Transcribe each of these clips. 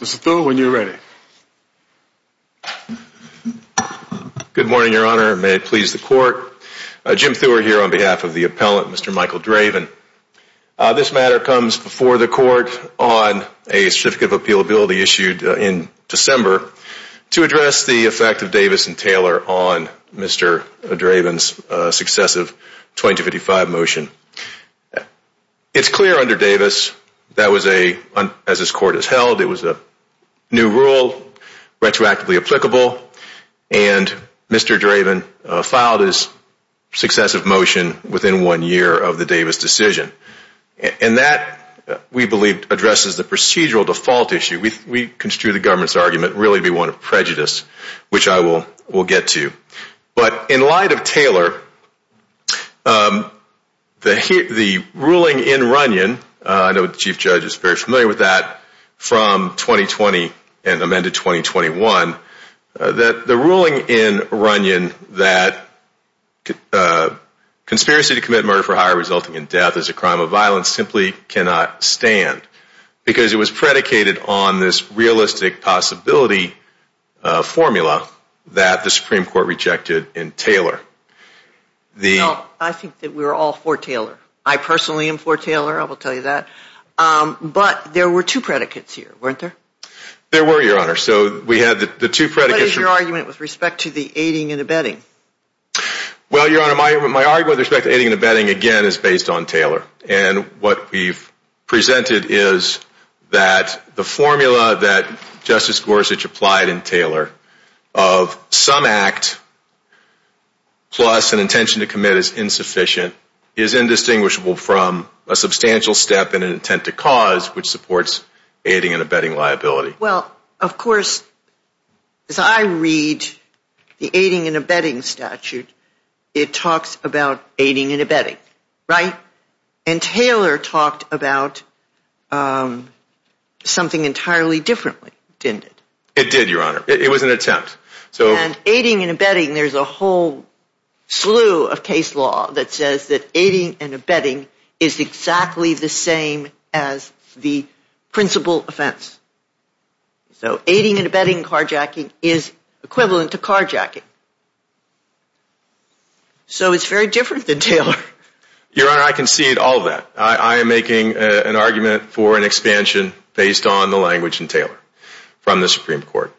Mr. Thur, when you're ready. Good morning, Your Honor. May it please the Court. Jim Thur here on behalf of the appellant, Mr. Michael Draven. This matter comes before the Court on a Certificate of Appealability issued in December to address the effect of Davis and Taylor on Mr. Draven's successive 2255 motion. It's clear under Davis, as this Court has held, it was a new rule, retroactively applicable, and Mr. Draven filed his successive motion within one year of the Davis decision. And that, we believe, addresses the procedural default issue. We construe the government's argument really to be one of prejudice, which I will get to. But in light of Taylor, the ruling in Runyon, I know the Chief Judge is very familiar with that, from 2020 and amended 2021, that the ruling in Runyon that conspiracy to commit murder for hire resulting in death is a crime of violence simply cannot stand. Because it was predicated on this realistic possibility formula that the Supreme Court rejected in Taylor. Well, I think that we're all for Taylor. I personally am for Taylor, I will tell you that. But there were two predicates here, weren't there? There were, Your Honor. So we had the two predicates. What is your argument with respect to the aiding and abetting? Well, Your Honor, my argument with respect to aiding and abetting, again, is based on Taylor. And what we've presented is that the formula that Justice Gorsuch applied in Taylor of some act plus an intention to commit is insufficient, is indistinguishable from a substantial step in an intent to cause, which supports aiding and abetting liability. Well, of course, as I read the aiding and abetting statute, it talks about aiding and abetting, right? And Taylor talked about something entirely differently, didn't it? It did, Your Honor. It was an attempt. And aiding and abetting, there's a whole slew of case law that says that aiding and abetting is exactly the same as the principal offense. So aiding and abetting carjacking is equivalent to carjacking. So it's very different than Taylor. Your Honor, I concede all of that. I am making an argument for an expansion based on the language in Taylor from the Supreme Court.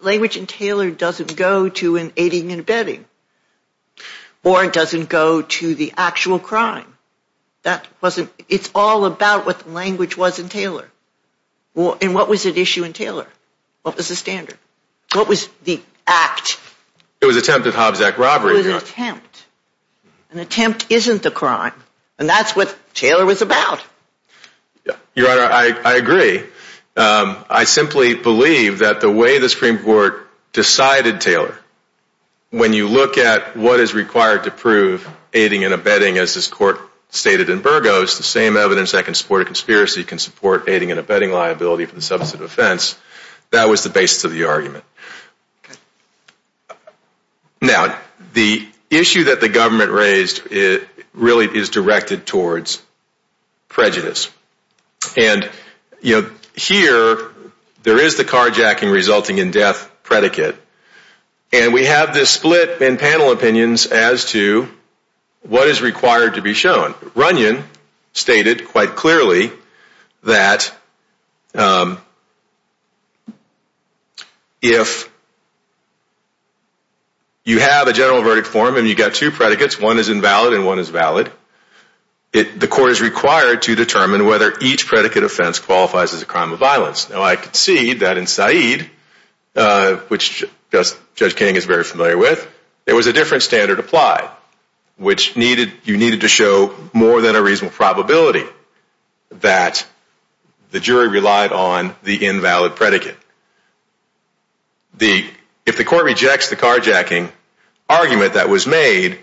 Language in Taylor doesn't go to an aiding and abetting. Or it doesn't go to the actual crime. It's all about what the language was in Taylor. And what was at issue in Taylor? What was the standard? It was an attempt at Hobbs Act robbery, Your Honor. It was an attempt. An attempt isn't a crime. And that's what Taylor was about. Your Honor, I agree. I simply believe that the way the Supreme Court decided Taylor, when you look at what is required to prove aiding and abetting, as this Court stated in Burgos, the same evidence that can support a conspiracy can support aiding and abetting liability for the substantive offense. That was the basis of the argument. Okay. Now, the issue that the government raised really is directed towards prejudice. And, you know, here there is the carjacking resulting in death predicate. And we have this split in panel opinions as to what is required to be shown. Runyon stated quite clearly that if you have a general verdict form and you've got two predicates, one is invalid and one is valid, the Court is required to determine whether each predicate offense qualifies as a crime of violence. Now, I concede that in Said, which Judge King is very familiar with, there was a different standard applied, which you needed to show more than a reasonable probability that the jury relied on the invalid predicate. If the Court rejects the carjacking argument that was made,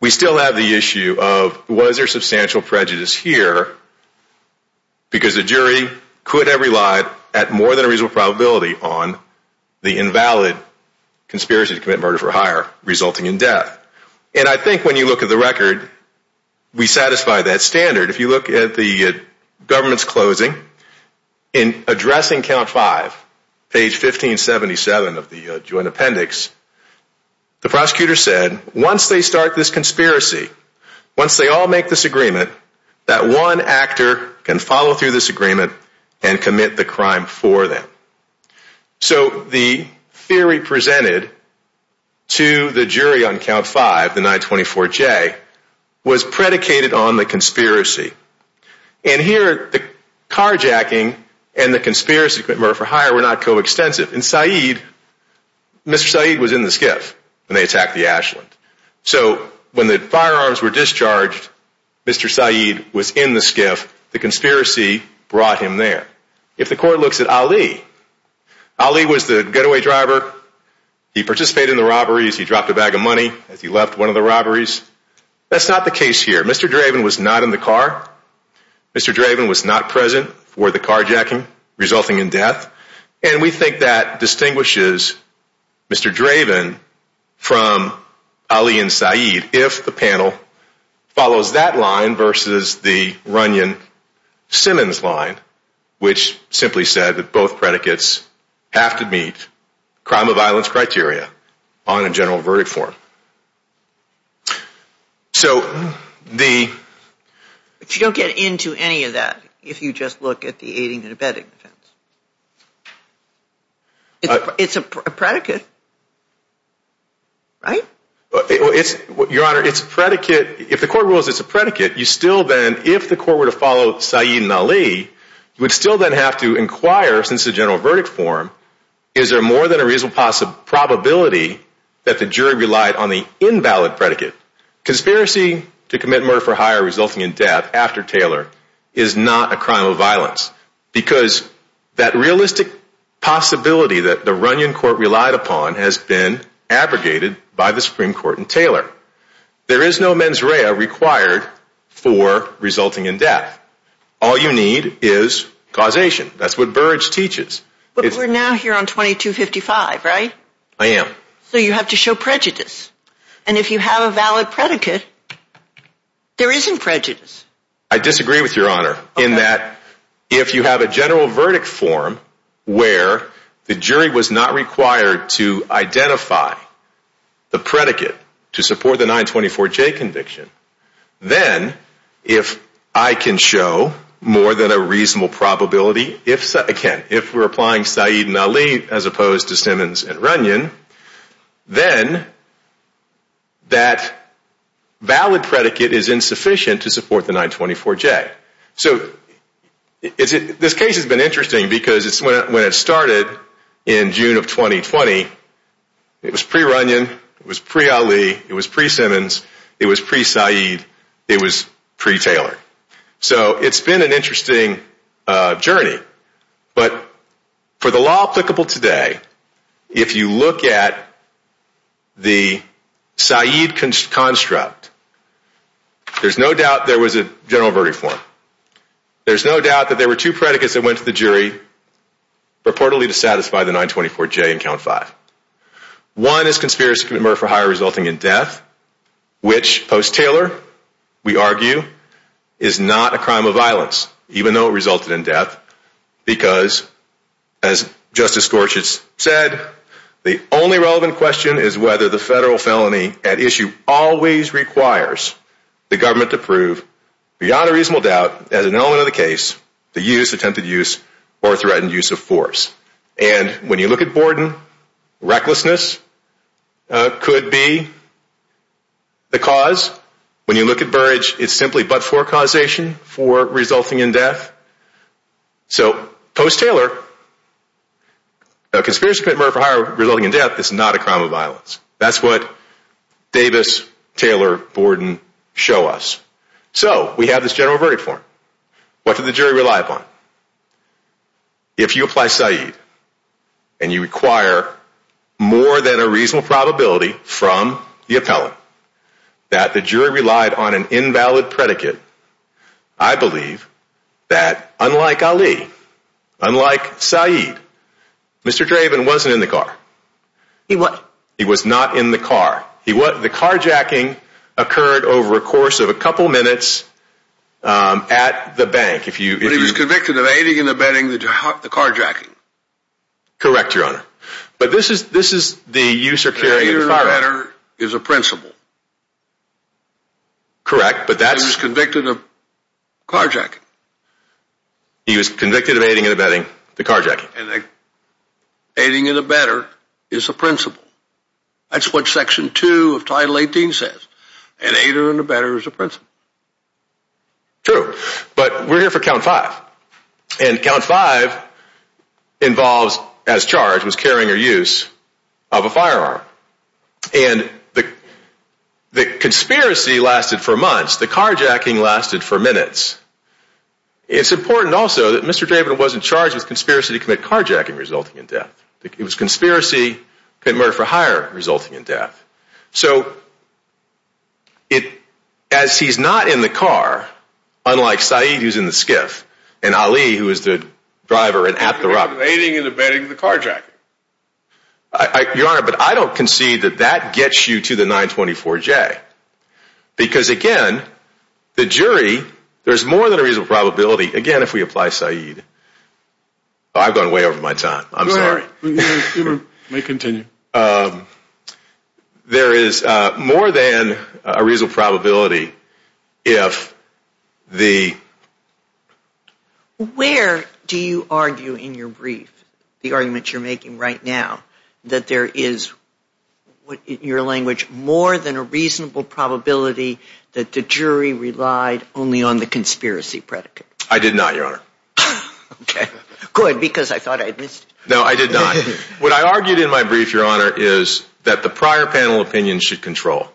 we still have the issue of was there substantial prejudice here because the jury could have relied at more than a reasonable probability on the invalid conspiracy to commit murder for hire resulting in death. And I think when you look at the record, we satisfy that standard. If you look at the government's closing, in addressing count five, page 1577 of the joint appendix, the prosecutor said once they start this conspiracy, once they all make this agreement, that one actor can follow through this agreement and commit the crime for them. So the theory presented to the jury on count five, the 924J, was predicated on the conspiracy. And here, the carjacking and the conspiracy to commit murder for hire were not coextensive. In Said, Mr. Said was in the skiff when they attacked the Ashland. So when the firearms were discharged, Mr. Said was in the skiff. The conspiracy brought him there. If the court looks at Ali, Ali was the getaway driver. He participated in the robberies. He dropped a bag of money as he left one of the robberies. That's not the case here. Mr. Draven was not in the car. Mr. Draven was not present for the carjacking resulting in death. And we think that distinguishes Mr. Draven from Ali and Said if the panel follows that line versus the Runyon-Simmons line, which simply said that both predicates have to meet crime of violence criteria on a general verdict form. But you don't get into any of that if you just look at the aiding and abetting defense. It's a predicate, right? Your Honor, it's a predicate. If the court rules it's a predicate, you still then, if the court were to follow Said and Ali, you would still then have to inquire, since it's a general verdict form, is there more than a reasonable probability that the jury relied on the invalid predicate? Conspiracy to commit murder for hire resulting in death after Taylor is not a crime of violence. Because that realistic possibility that the Runyon court relied upon has been abrogated by the Supreme Court and Taylor. There is no mens rea required for resulting in death. All you need is causation. That's what Burrage teaches. But we're now here on 2255, right? I am. So you have to show prejudice. And if you have a valid predicate, there isn't prejudice. I disagree with Your Honor. In that, if you have a general verdict form where the jury was not required to identify the predicate to support the 924J conviction, then if I can show more than a reasonable probability, again, if we're applying Said and Ali as opposed to Simmons and Runyon, then that valid predicate is insufficient to support the 924J. So this case has been interesting because when it started in June of 2020, it was pre-Runyon. It was pre-Ali. It was pre-Simmons. It was pre-Said. It was pre-Taylor. So it's been an interesting journey. But for the law applicable today, if you look at the Said construct, there's no doubt there was a general verdict form. There's no doubt that there were two predicates that went to the jury purportedly to satisfy the 924J in Count 5. One is conspiracy to commit murder for hire resulting in death, which post-Taylor, we argue, is not a crime of violence, even though it resulted in death, because as Justice Gorsuch said, the only relevant question is whether the federal felony at issue always requires the government to prove, beyond a reasonable doubt, as an element of the case, the use, attempted use, or threatened use of force. And when you look at Borden, recklessness could be the cause. When you look at Burrage, it's simply but-for causation, for resulting in death. So post-Taylor, conspiracy to commit murder for hire resulting in death is not a crime of violence. That's what Davis, Taylor, Borden show us. So, we have this general verdict form. What did the jury rely upon? If you apply Said, and you require more than a reasonable probability from the appellant that the jury relied on an invalid predicate, I believe that, unlike Ali, unlike Said, Mr. Draven wasn't in the car. He what? He was not in the car. The carjacking occurred over a course of a couple minutes at the bank. But he was convicted of aiding and abetting the carjacking. Correct, Your Honor. But this is the use or carrying of the firearm. The aiding and abetting is a principle. Correct, but that's... He was convicted of carjacking. He was convicted of aiding and abetting the carjacking. Aiding and abetting is a principle. That's what section 2 of title 18 says. And aiding and abetting is a principle. True, but we're here for count 5. And count 5 involves, as charged, was carrying or use of a firearm. And the conspiracy lasted for months. The carjacking lasted for minutes. It's important also that Mr. Draven wasn't charged with conspiracy to commit carjacking resulting in death. It was conspiracy to commit murder for hire resulting in death. So, as he's not in the car, unlike Saeed who's in the skiff, and Ali who is the driver and at the robbery. Aiding and abetting the carjacking. Your Honor, but I don't concede that that gets you to the 924J. Because again, the jury, there's more than a reasonable probability, again if we apply Saeed, I've gone way over my time, I'm sorry. You may continue. There is more than a reasonable probability if the... Where do you argue in your brief, the argument you're making right now, that there is, in your language, more than a reasonable probability I did not, Your Honor. Good, because I thought I'd missed it. No, I did not. What I argued in my brief, Your Honor, is that the prior panel opinion should control.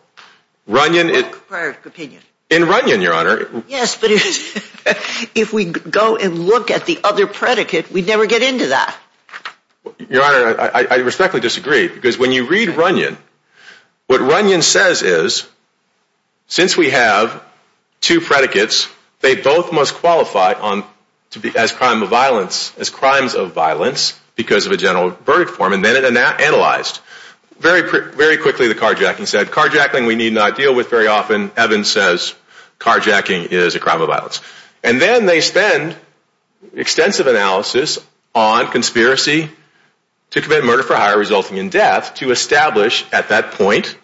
Runyon... Prior opinion. In Runyon, Your Honor... Yes, but if we go and look at the other predicate, we never get into that. Your Honor, I respectfully disagree. Because when you read Runyon, what Runyon says is, since we have two predicates, they both must qualify as crime of violence, as crimes of violence, because of a general verdict form. And then it analyzed. Very quickly, the carjacking said, carjacking we need not deal with very often. Evans says, carjacking is a crime of violence. And then they spend extensive analysis on conspiracy to commit murder for hire resulting in death, to establish at that point,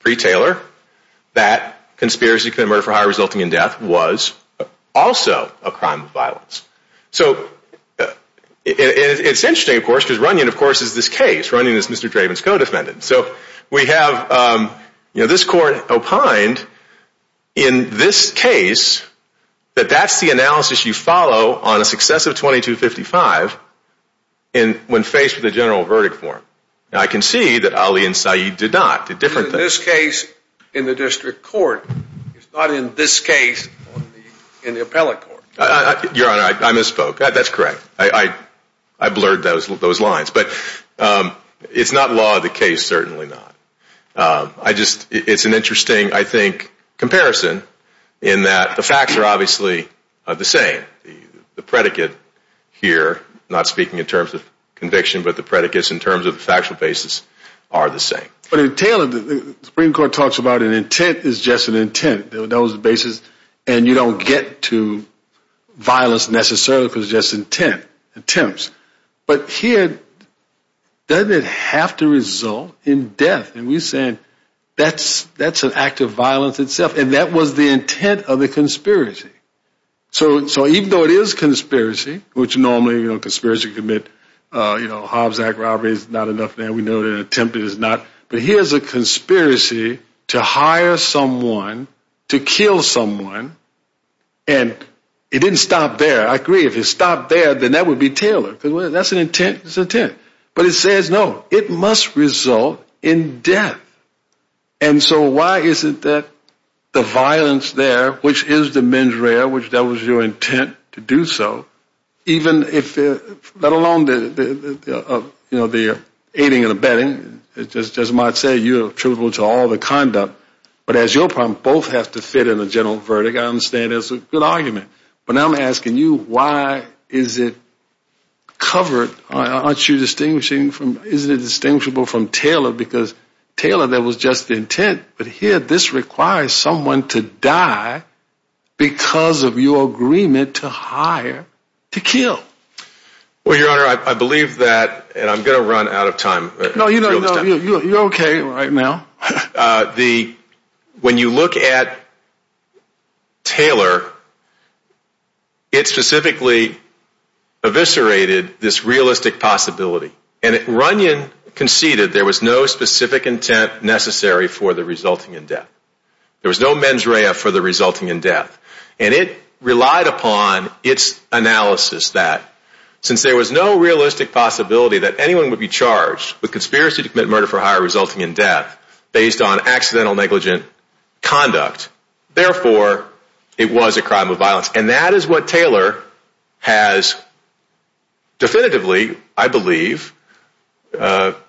pre-Taylor, that conspiracy to commit murder for hire resulting in death was also a crime of violence. So, it's interesting, of course, because Runyon, of course, is this case. Runyon is Mr. Draven's co-defendant. So, we have, you know, this court opined in this case that that's the analysis you follow on a successive 2255 when faced with a general verdict form. Now, I can see that Ali and Sayeed did not. It's a different thing. The case in the district court is not in this case in the appellate court. Your Honor, I misspoke. That's correct. I blurred those lines. But it's not law of the case, certainly not. I just, it's an interesting, I think, comparison in that the facts are obviously the same. The predicate here, not speaking in terms of conviction, but the predicates in terms of the factual basis are the same. So, when he talks about an intent, it's just an intent. That was the basis. And you don't get to violence, necessarily, because it's just intent, attempts. But here, doesn't it have to result in death? And we're saying that's an act of violence itself. And that was the intent of the conspiracy. So, even though it is conspiracy, which normally, you know, conspiracy commit, you know, Hobbs Act robbery is not enough, and we know that attempted is not. To hire someone, to kill someone, and it didn't stop there. I agree, if it stopped there, then that would be Taylor. Because that's an intent, it's intent. But it says, no, it must result in death. And so, why is it that the violence there, which is the mens rea, which that was your intent to do so, even if, let alone the, you know, the aiding and abetting, it just might say you're attributable to the fact that you ended up. But as your problem, both have to fit in a general verdict. I understand it's a good argument. But now I'm asking you, why is it covered? Aren't you distinguishing from, isn't it distinguishable from Taylor? Because Taylor, that was just the intent. But here, this requires someone to die because of your agreement to hire to kill. Well, your honor, I believe that, and I'm going to run out of time. No, you know, you're okay right now. The, when you look at Taylor, it specifically eviscerated this realistic possibility. And Runyon conceded there was no specific intent necessary for the resulting in death. There was no mens rea for the resulting in death. And it relied upon its analysis that since there was no realistic possibility that anyone would be charged with conspiracy to commit murder for hire resulting in death based on accidental negligence conduct, therefore, it was a crime of violence. And that is what Taylor has definitively, I believe,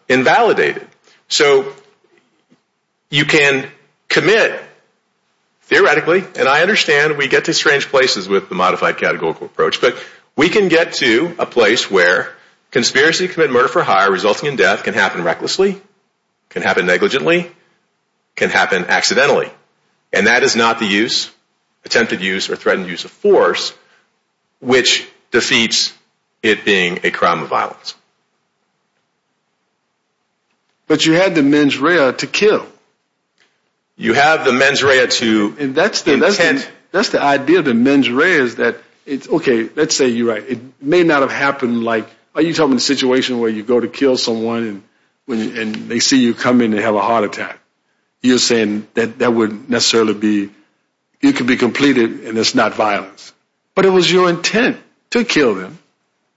invalidated. So, you can commit, theoretically, and I understand we get to strange places with the modified categorical approach, but we can get to a place where conspiracy to commit murder for hire resulting in death can happen recklessly, can happen negligently, can happen accidentally. And that is not the use, attempted use or threatened use of force, which defeats it being a crime of violence. But you had the mens rea to kill. You have the mens rea to And that's the, that's the idea of the mens rea is that it's okay, let's say you're right. It may not have happened like, are you talking about the situation where you go to kill someone and they see you come in and have a heart attack. You're saying that that would necessarily be, it could be completed and it's not violence. But it was your intent to kill them.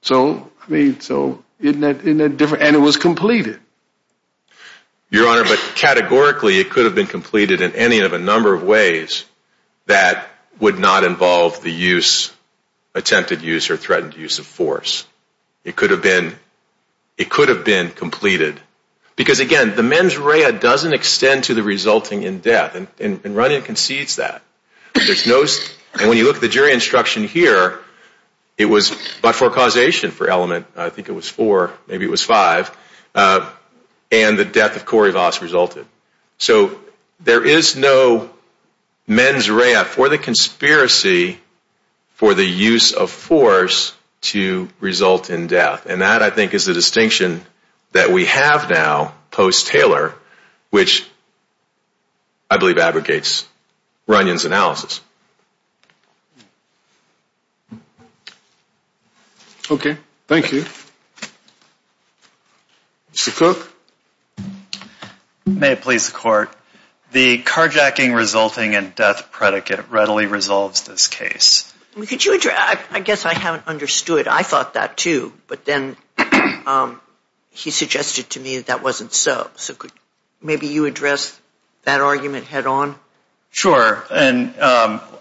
So, I mean, so, isn't that different? And it was completed. Your Honor, but categorically, it could have been completed in any of a number of ways that would not involve the use, attempted use or threatened use of force. It could have been, it could have been completed. Because again, the mens rea doesn't extend to the resulting in death. And Runyon concedes that. There's no, and when you look at the jury instruction here, it was but for causation for element. I think it was four, maybe it was five. And the death of Corey Voss resulted. So, there is no mens rea for the conspiracy for the use of force to result in death. And that, I think, we have now post-Taylor, which I believe aggregates Runyon's analysis. Okay. Thank you. Mr. Cook. May it please the Court. The carjacking resulting in death predicate readily resolves this case. Could you address, I guess I haven't understood. I thought that too. But then, he suggested to me that wasn't so. So, could maybe you address that argument head on? Sure. And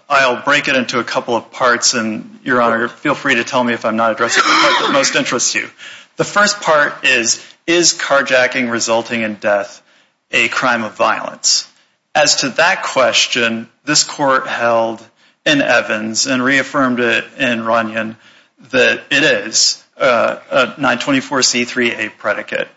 I'll break it into a couple of parts. And Your Honor, feel free to tell me if I'm not addressing the part that most interests you. The first part is, is carjacking resulting in death a crime of violence? As to that question, this Court held in Evans and reaffirmed it in Runyon that it is a 924C3A predicate.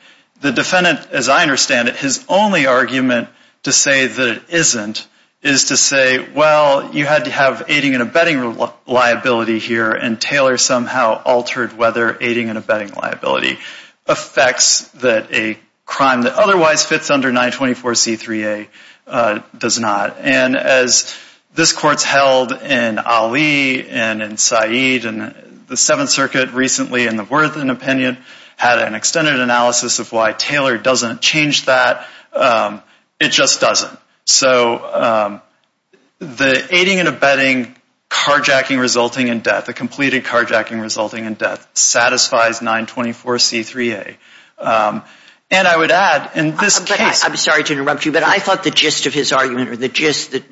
The defendant, as I understand it, his only argument to say that it isn't is to say, well, you had to have aiding and abetting liability here and Taylor somehow altered whether aiding and abetting liability affects that a crime that otherwise fits under 924C3A does not. And as this Court's held in Ali and in Said and the Seventh Circuit recently in the Worthen opinion had an extended analysis of why Taylor doesn't change that. It just doesn't. So, the aiding and abetting carjacking resulting in death, the completed carjacking resulting in death satisfies 924C3A. And I would add, in this case... I'm sorry to interrupt you, but I thought the gist of his argument or the gist that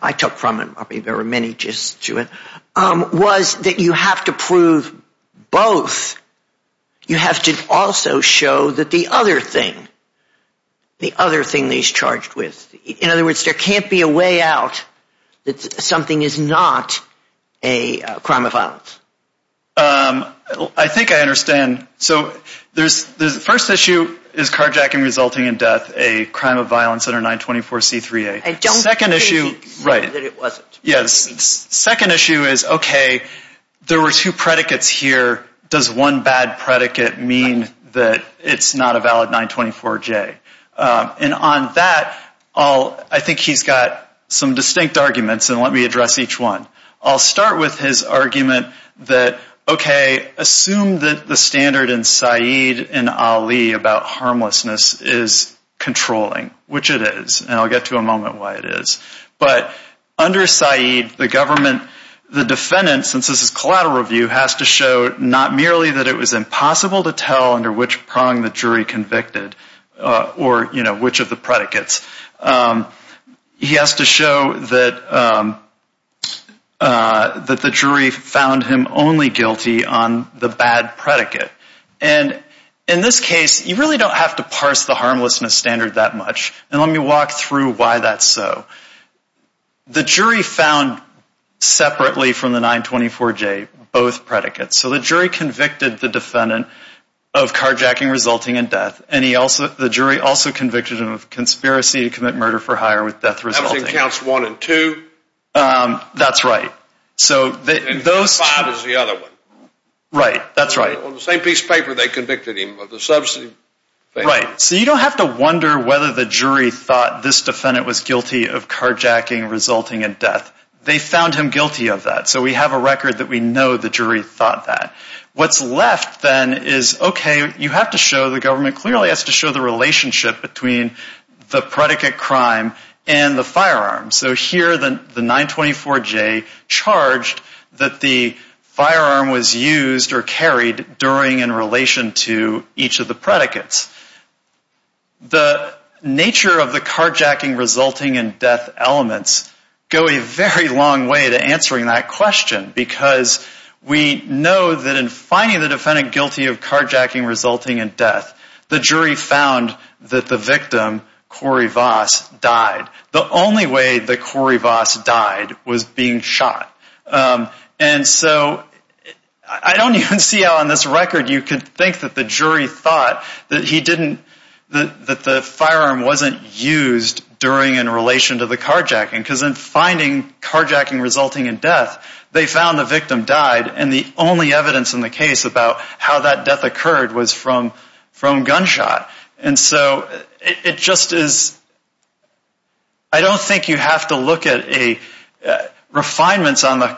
I took from it, there were many gists to it, was that you have to prove both. You have to also show that the other thing, the other thing that he's charged with, in other words, there can't be a way out that something is not a crime of violence. I think I understand. the first issue is carjacking resulting in death a crime of violence under 924C3A. Don't say that it wasn't. Yes. The second issue is, okay, there were two predicates here. Does one bad predicate mean that it's not a valid 924J? And on that, I think he's got some distinct arguments, and let me address each one. I'll start with his argument that, okay, assume that the standard in Said and Ali about harmlessness is controlling, which it is. And I'll get to in a moment why it is. But under Said, the government, the defendant, since this is collateral review, has to show not merely that it was impossible to tell under which prong the jury convicted or, you know, which of the predicates. He has to show that the jury found him only guilty on the bad predicate. And in this case, you really don't have to parse the harmlessness standard that much. And let me walk through why that's so. The jury found separately from the 924J both predicates. So the jury convicted the defendant of carjacking resulting in death. And he also, the jury also convicted him of conspiracy to commit murder for hire with death resulting. That was in counts one and two. That's right. So those... And five is the other one. Right. That's right. On the same piece of paper they convicted him of the subsidy. Right. So you don't have to wonder whether the jury thought this defendant was guilty of carjacking resulting in death. They found him guilty of that. So we have a record that we know the jury thought that. What's left then is, okay, you have to show the government clearly has to show the relationship between the predicate crime and the firearm. So here the 924J charged that the firearm was used or carried during in relation to each of the predicates. The nature of the carjacking resulting in death elements go a very long way to answering that question because we know that in finding the defendant guilty of carjacking resulting in death the jury found that the victim Corey Voss died. The only way that Corey Voss died was being shot. And so I don't even see on this record you could think that the jury thought that he didn't that the firearm wasn't used during in relation to the carjacking because in finding carjacking resulting in death they found the victim died and the only evidence in the case about how that death occurred was from gunshot. And so it just is I don't think you have to look at a refinements on the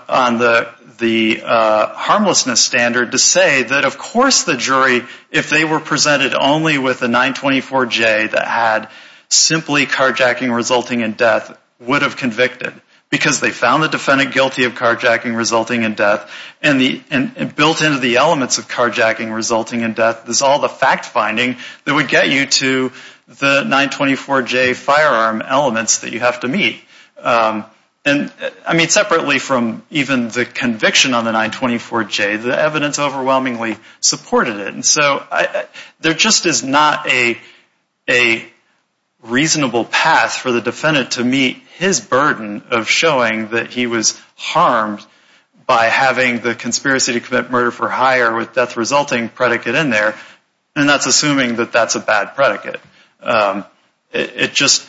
harmlessness standard to say that of course the jury if they were presented only with the 924J that had simply carjacking resulting in death would have convicted because they found the defendant guilty of carjacking resulting in death and built into the elements of carjacking resulting in death is all the fact finding that would get you to the 924J firearm elements that you have to meet. And I mean separately from even the conviction on the 924J the evidence overwhelmingly supported it. And so there just is not a reasonable path for the defendant to meet his burden of showing that he was harmed by having the conspiracy to commit murder for hire with death resulting predicate in there and that's assuming that that's a bad predicate. It just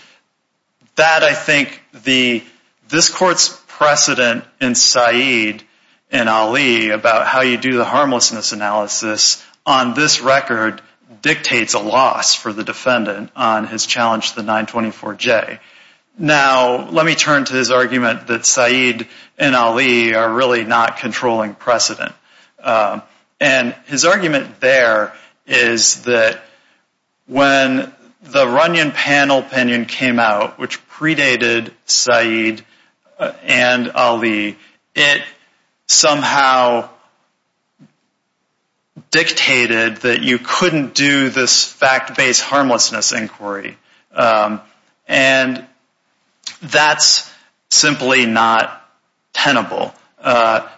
that I think the this court's precedent in Saeed and Ali about how you do the harmlessness analysis on this record dictates a loss for the defendant on his challenge to the 924J. Now let me turn to his argument that Saeed and Ali are really not controlling precedent. And his argument there is that when the Runyon panel opinion came out which predated Saeed and Ali it somehow dictated that you couldn't do this fact-based harmlessness inquiry. And that's simply not tenable.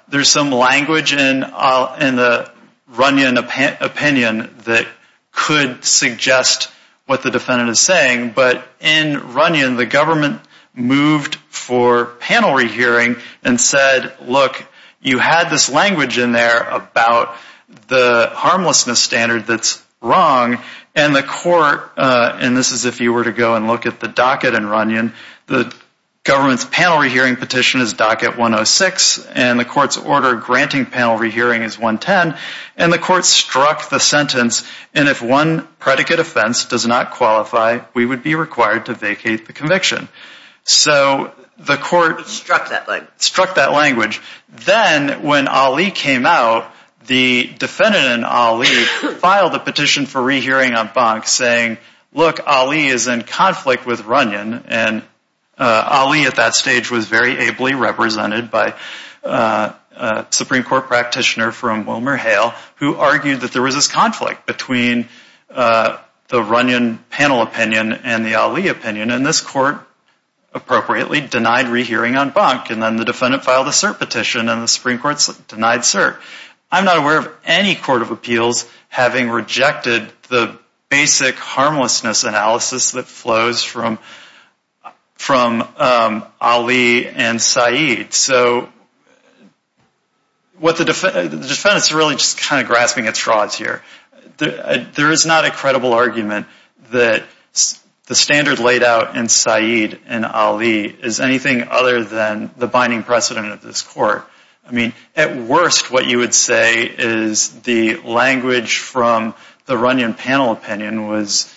There's some language in the Runyon opinion that could suggest what the defendant is saying, but in Runyon the government moved for petition. And if you look, you had this language in there about the harmlessness standard that's wrong and the court, and this is if you were to go and look at the docket in Runyon, the government's panel rehearing petition is docket 106 and the court's opinion struck that language. Then when Ali came out, the defendant in Ali filed a petition for rehearing on bunk saying, look, Ali is in conflict with Runyon and Ali at that stage was very ably represented by a Supreme Court practitioner from Wilmer Hale who argued that there was this conflict between the Runyon panel opinion and the Ali opinion and this court appropriately denied rehearing on bunk and then the defendant filed a cert petition and the Supreme Court denied cert. I'm not aware of any court of appeals having rejected the basic Runyon panel opinion. I'm grasping at straws here. There is not a credible argument that the standard laid out in Said and Ali is anything other than the binding precedent of this court. At worst, what you would say is the language from the Runyon panel opinion was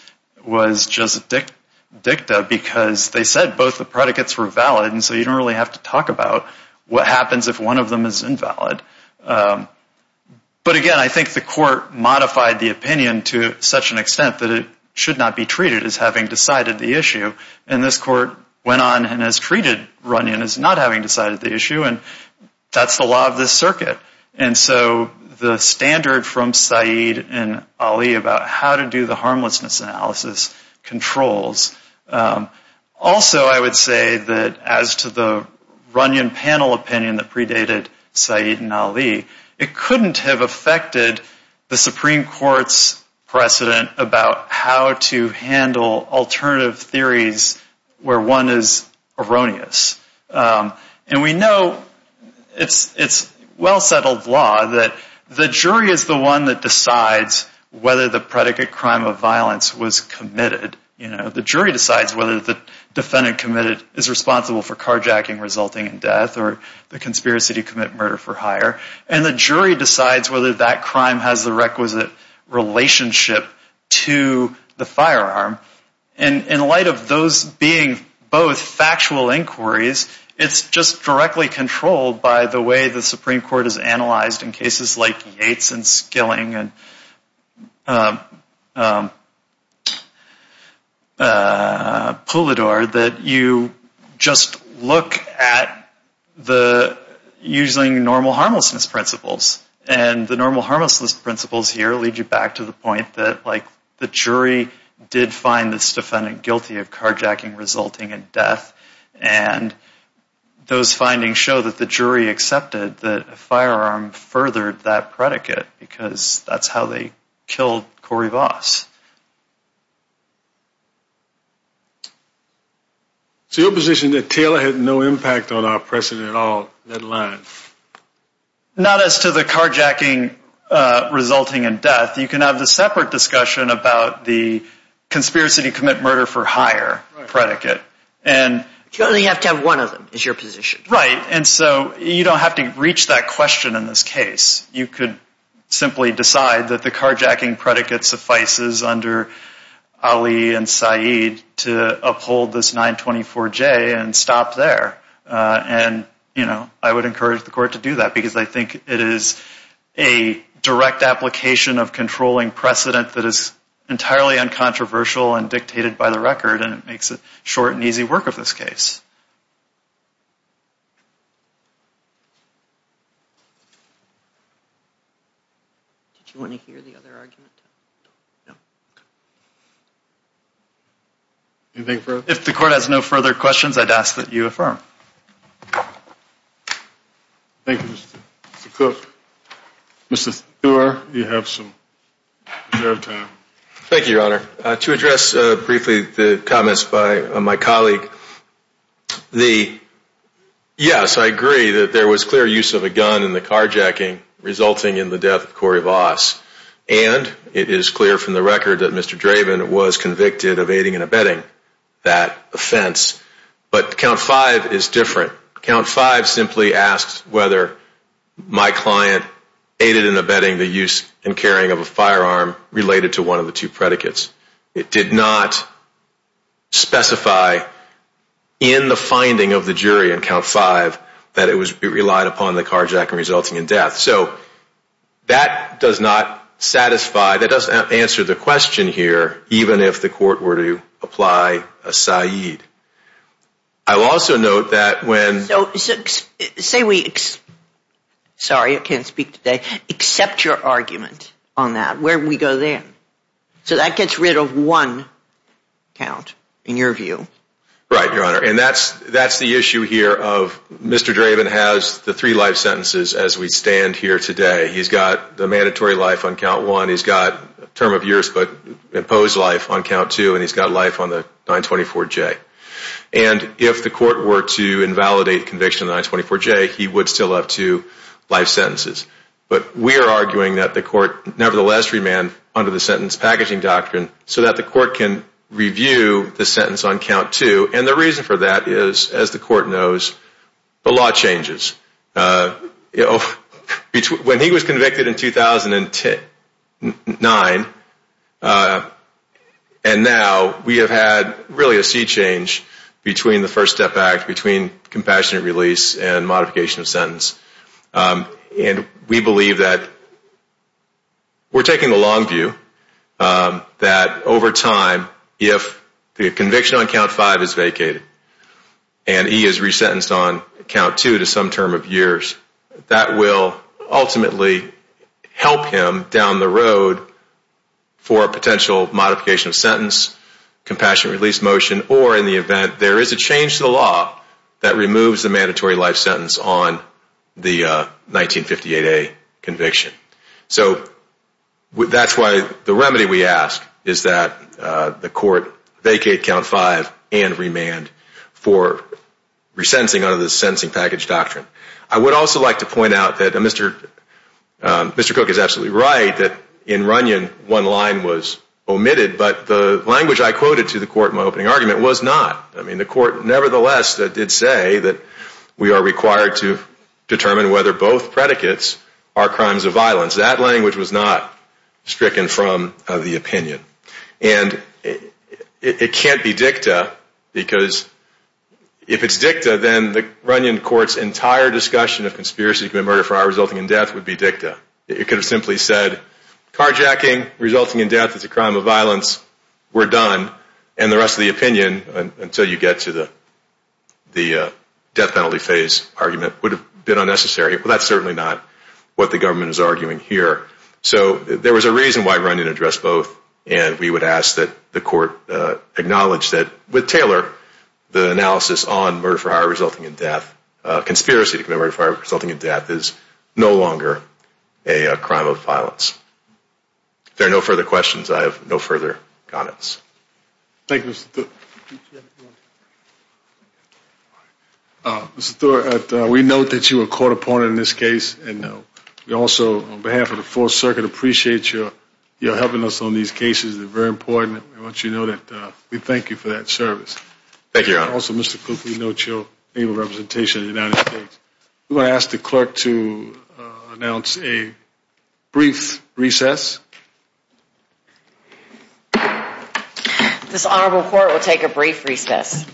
just dicta because they said both the predicates were valid so you don't really have to talk about what happens if one of them is invalid. But again, I think the court modified the opinion to such an extent that it should not be treated as having decided the issue and this court went on and has treated Runyon as not having decided the issue and that's the law of this circuit. And so the standard from Said and Ali about how to do the harmlessness analysis controls. Also, I would say that as to the Runyon panel opinion that predated Said and Ali, it couldn't have affected the Supreme Court's judgment. And we know it's well settled law that the jury is the one that decides whether the predicate crime of violence was committed. The jury decides whether the defendant committed is responsible for carjacking resulting in death or the conspiracy to commit murder for hire and the jury decides whether that crime has the requisite relationship to the firearm. And in light of those being both factual inquiries, it's just directly controlled by the way the Supreme Court has analyzed in cases like Yates and Skilling and Pulidor that you just look at the using normal harmlessness principles. And the normal harmlessness principles here lead you back to the fact that the jury did find this defendant guilty of carjacking resulting in death and those findings show that the jury accepted that a firearm furthered that predicate because that's how they killed Corey Voss. So your position that Taylor had no impact on our precedent at all, that line? Not as to the carjacking resulting in death. You can have a separate discussion about the conspiracy to commit murder for hire predicate. You only have to have one of them is your position. Right. And so you don't have to reach that question in this case. You could simply decide that the carjacking predicate suffices under Ali and that there is a direct application of controlling precedent that is entirely uncontroversial and dictated by the record and it makes it short and easy work of this case. Did you want to hear the other argument? No. Okay. Anything further? If the court has no further questions, I'd ask that you affirm. Thank you. Mr. Cook. Mr. Stewart, you have some time. Thank you, Your Honor. To address briefly the comments by my colleague, the yes, I agree that there was clear use of a gun in the carjacking resulting in the death of Corey Voss and it is clear from the record that Mr. Draven was convicted of aiding and abetting the use and carrying of a firearm related to one of the two predicates. It did not specify in the finding of the jury in count five that it was relied upon in the carjacking resulting in death. So that does not satisfy, that doesn't answer the question here even if the court were to apply a sentence. I also note that when... Say we sorry I can't speak today except your argument on that, where we go there. So that gets rid of one count in your view. Right, Your Honor. And that's the issue here of Mr. Draven has the three life sentences as we stand here today. He's got the mandatory life on count one, he's got term of years but imposed life on count two and he's got life on the 924J. And if the court invalidate conviction on 924J he would still have two life sentences. But we are arguing that the court nevertheless remained under the sentence until 2009 and now we have had really a sea change between the first step act, between compassionate release and modification of sentence. And we believe that we're taking the long view that over time if the conviction on count five is vacated and he is resentenced on count two to some term of years, that will ultimately help him down the road for a potential modification of sentence, compassionate release motion or in the event there is a change to the law that removes the mandatory life sentence on the 1958A conviction. So that's why the remedy we ask is that the court vacate count five and remand for resentencing under the first step act. Mr. Cook is absolutely right that in Runyon one line was omitted but the language I quoted to the court in my opening argument was not. The court nevertheless did say that we are required to determine whether both predicates are crimes of violence. That language was not omitted. It could have simply said car jacking resulting in death is a crime of violence, we're done, and the rest of the opinion until you get to the death penalty phase argument would have been unnecessary. That's certainly not what the government is arguing here. So there was a reason why Runyon addressed both and we would ask that the court acknowledge that with Taylor the analysis on murder resulting in death is no longer a crime of violence. If there are no further questions I have no further comments. Thank you. We note that you were caught upon in this case and we also on behalf of the fourth circuit appreciate your helping us on these cases. We thank you for that service. We also ask the clerk to announce a brief recess. This honorable court will take a brief recess.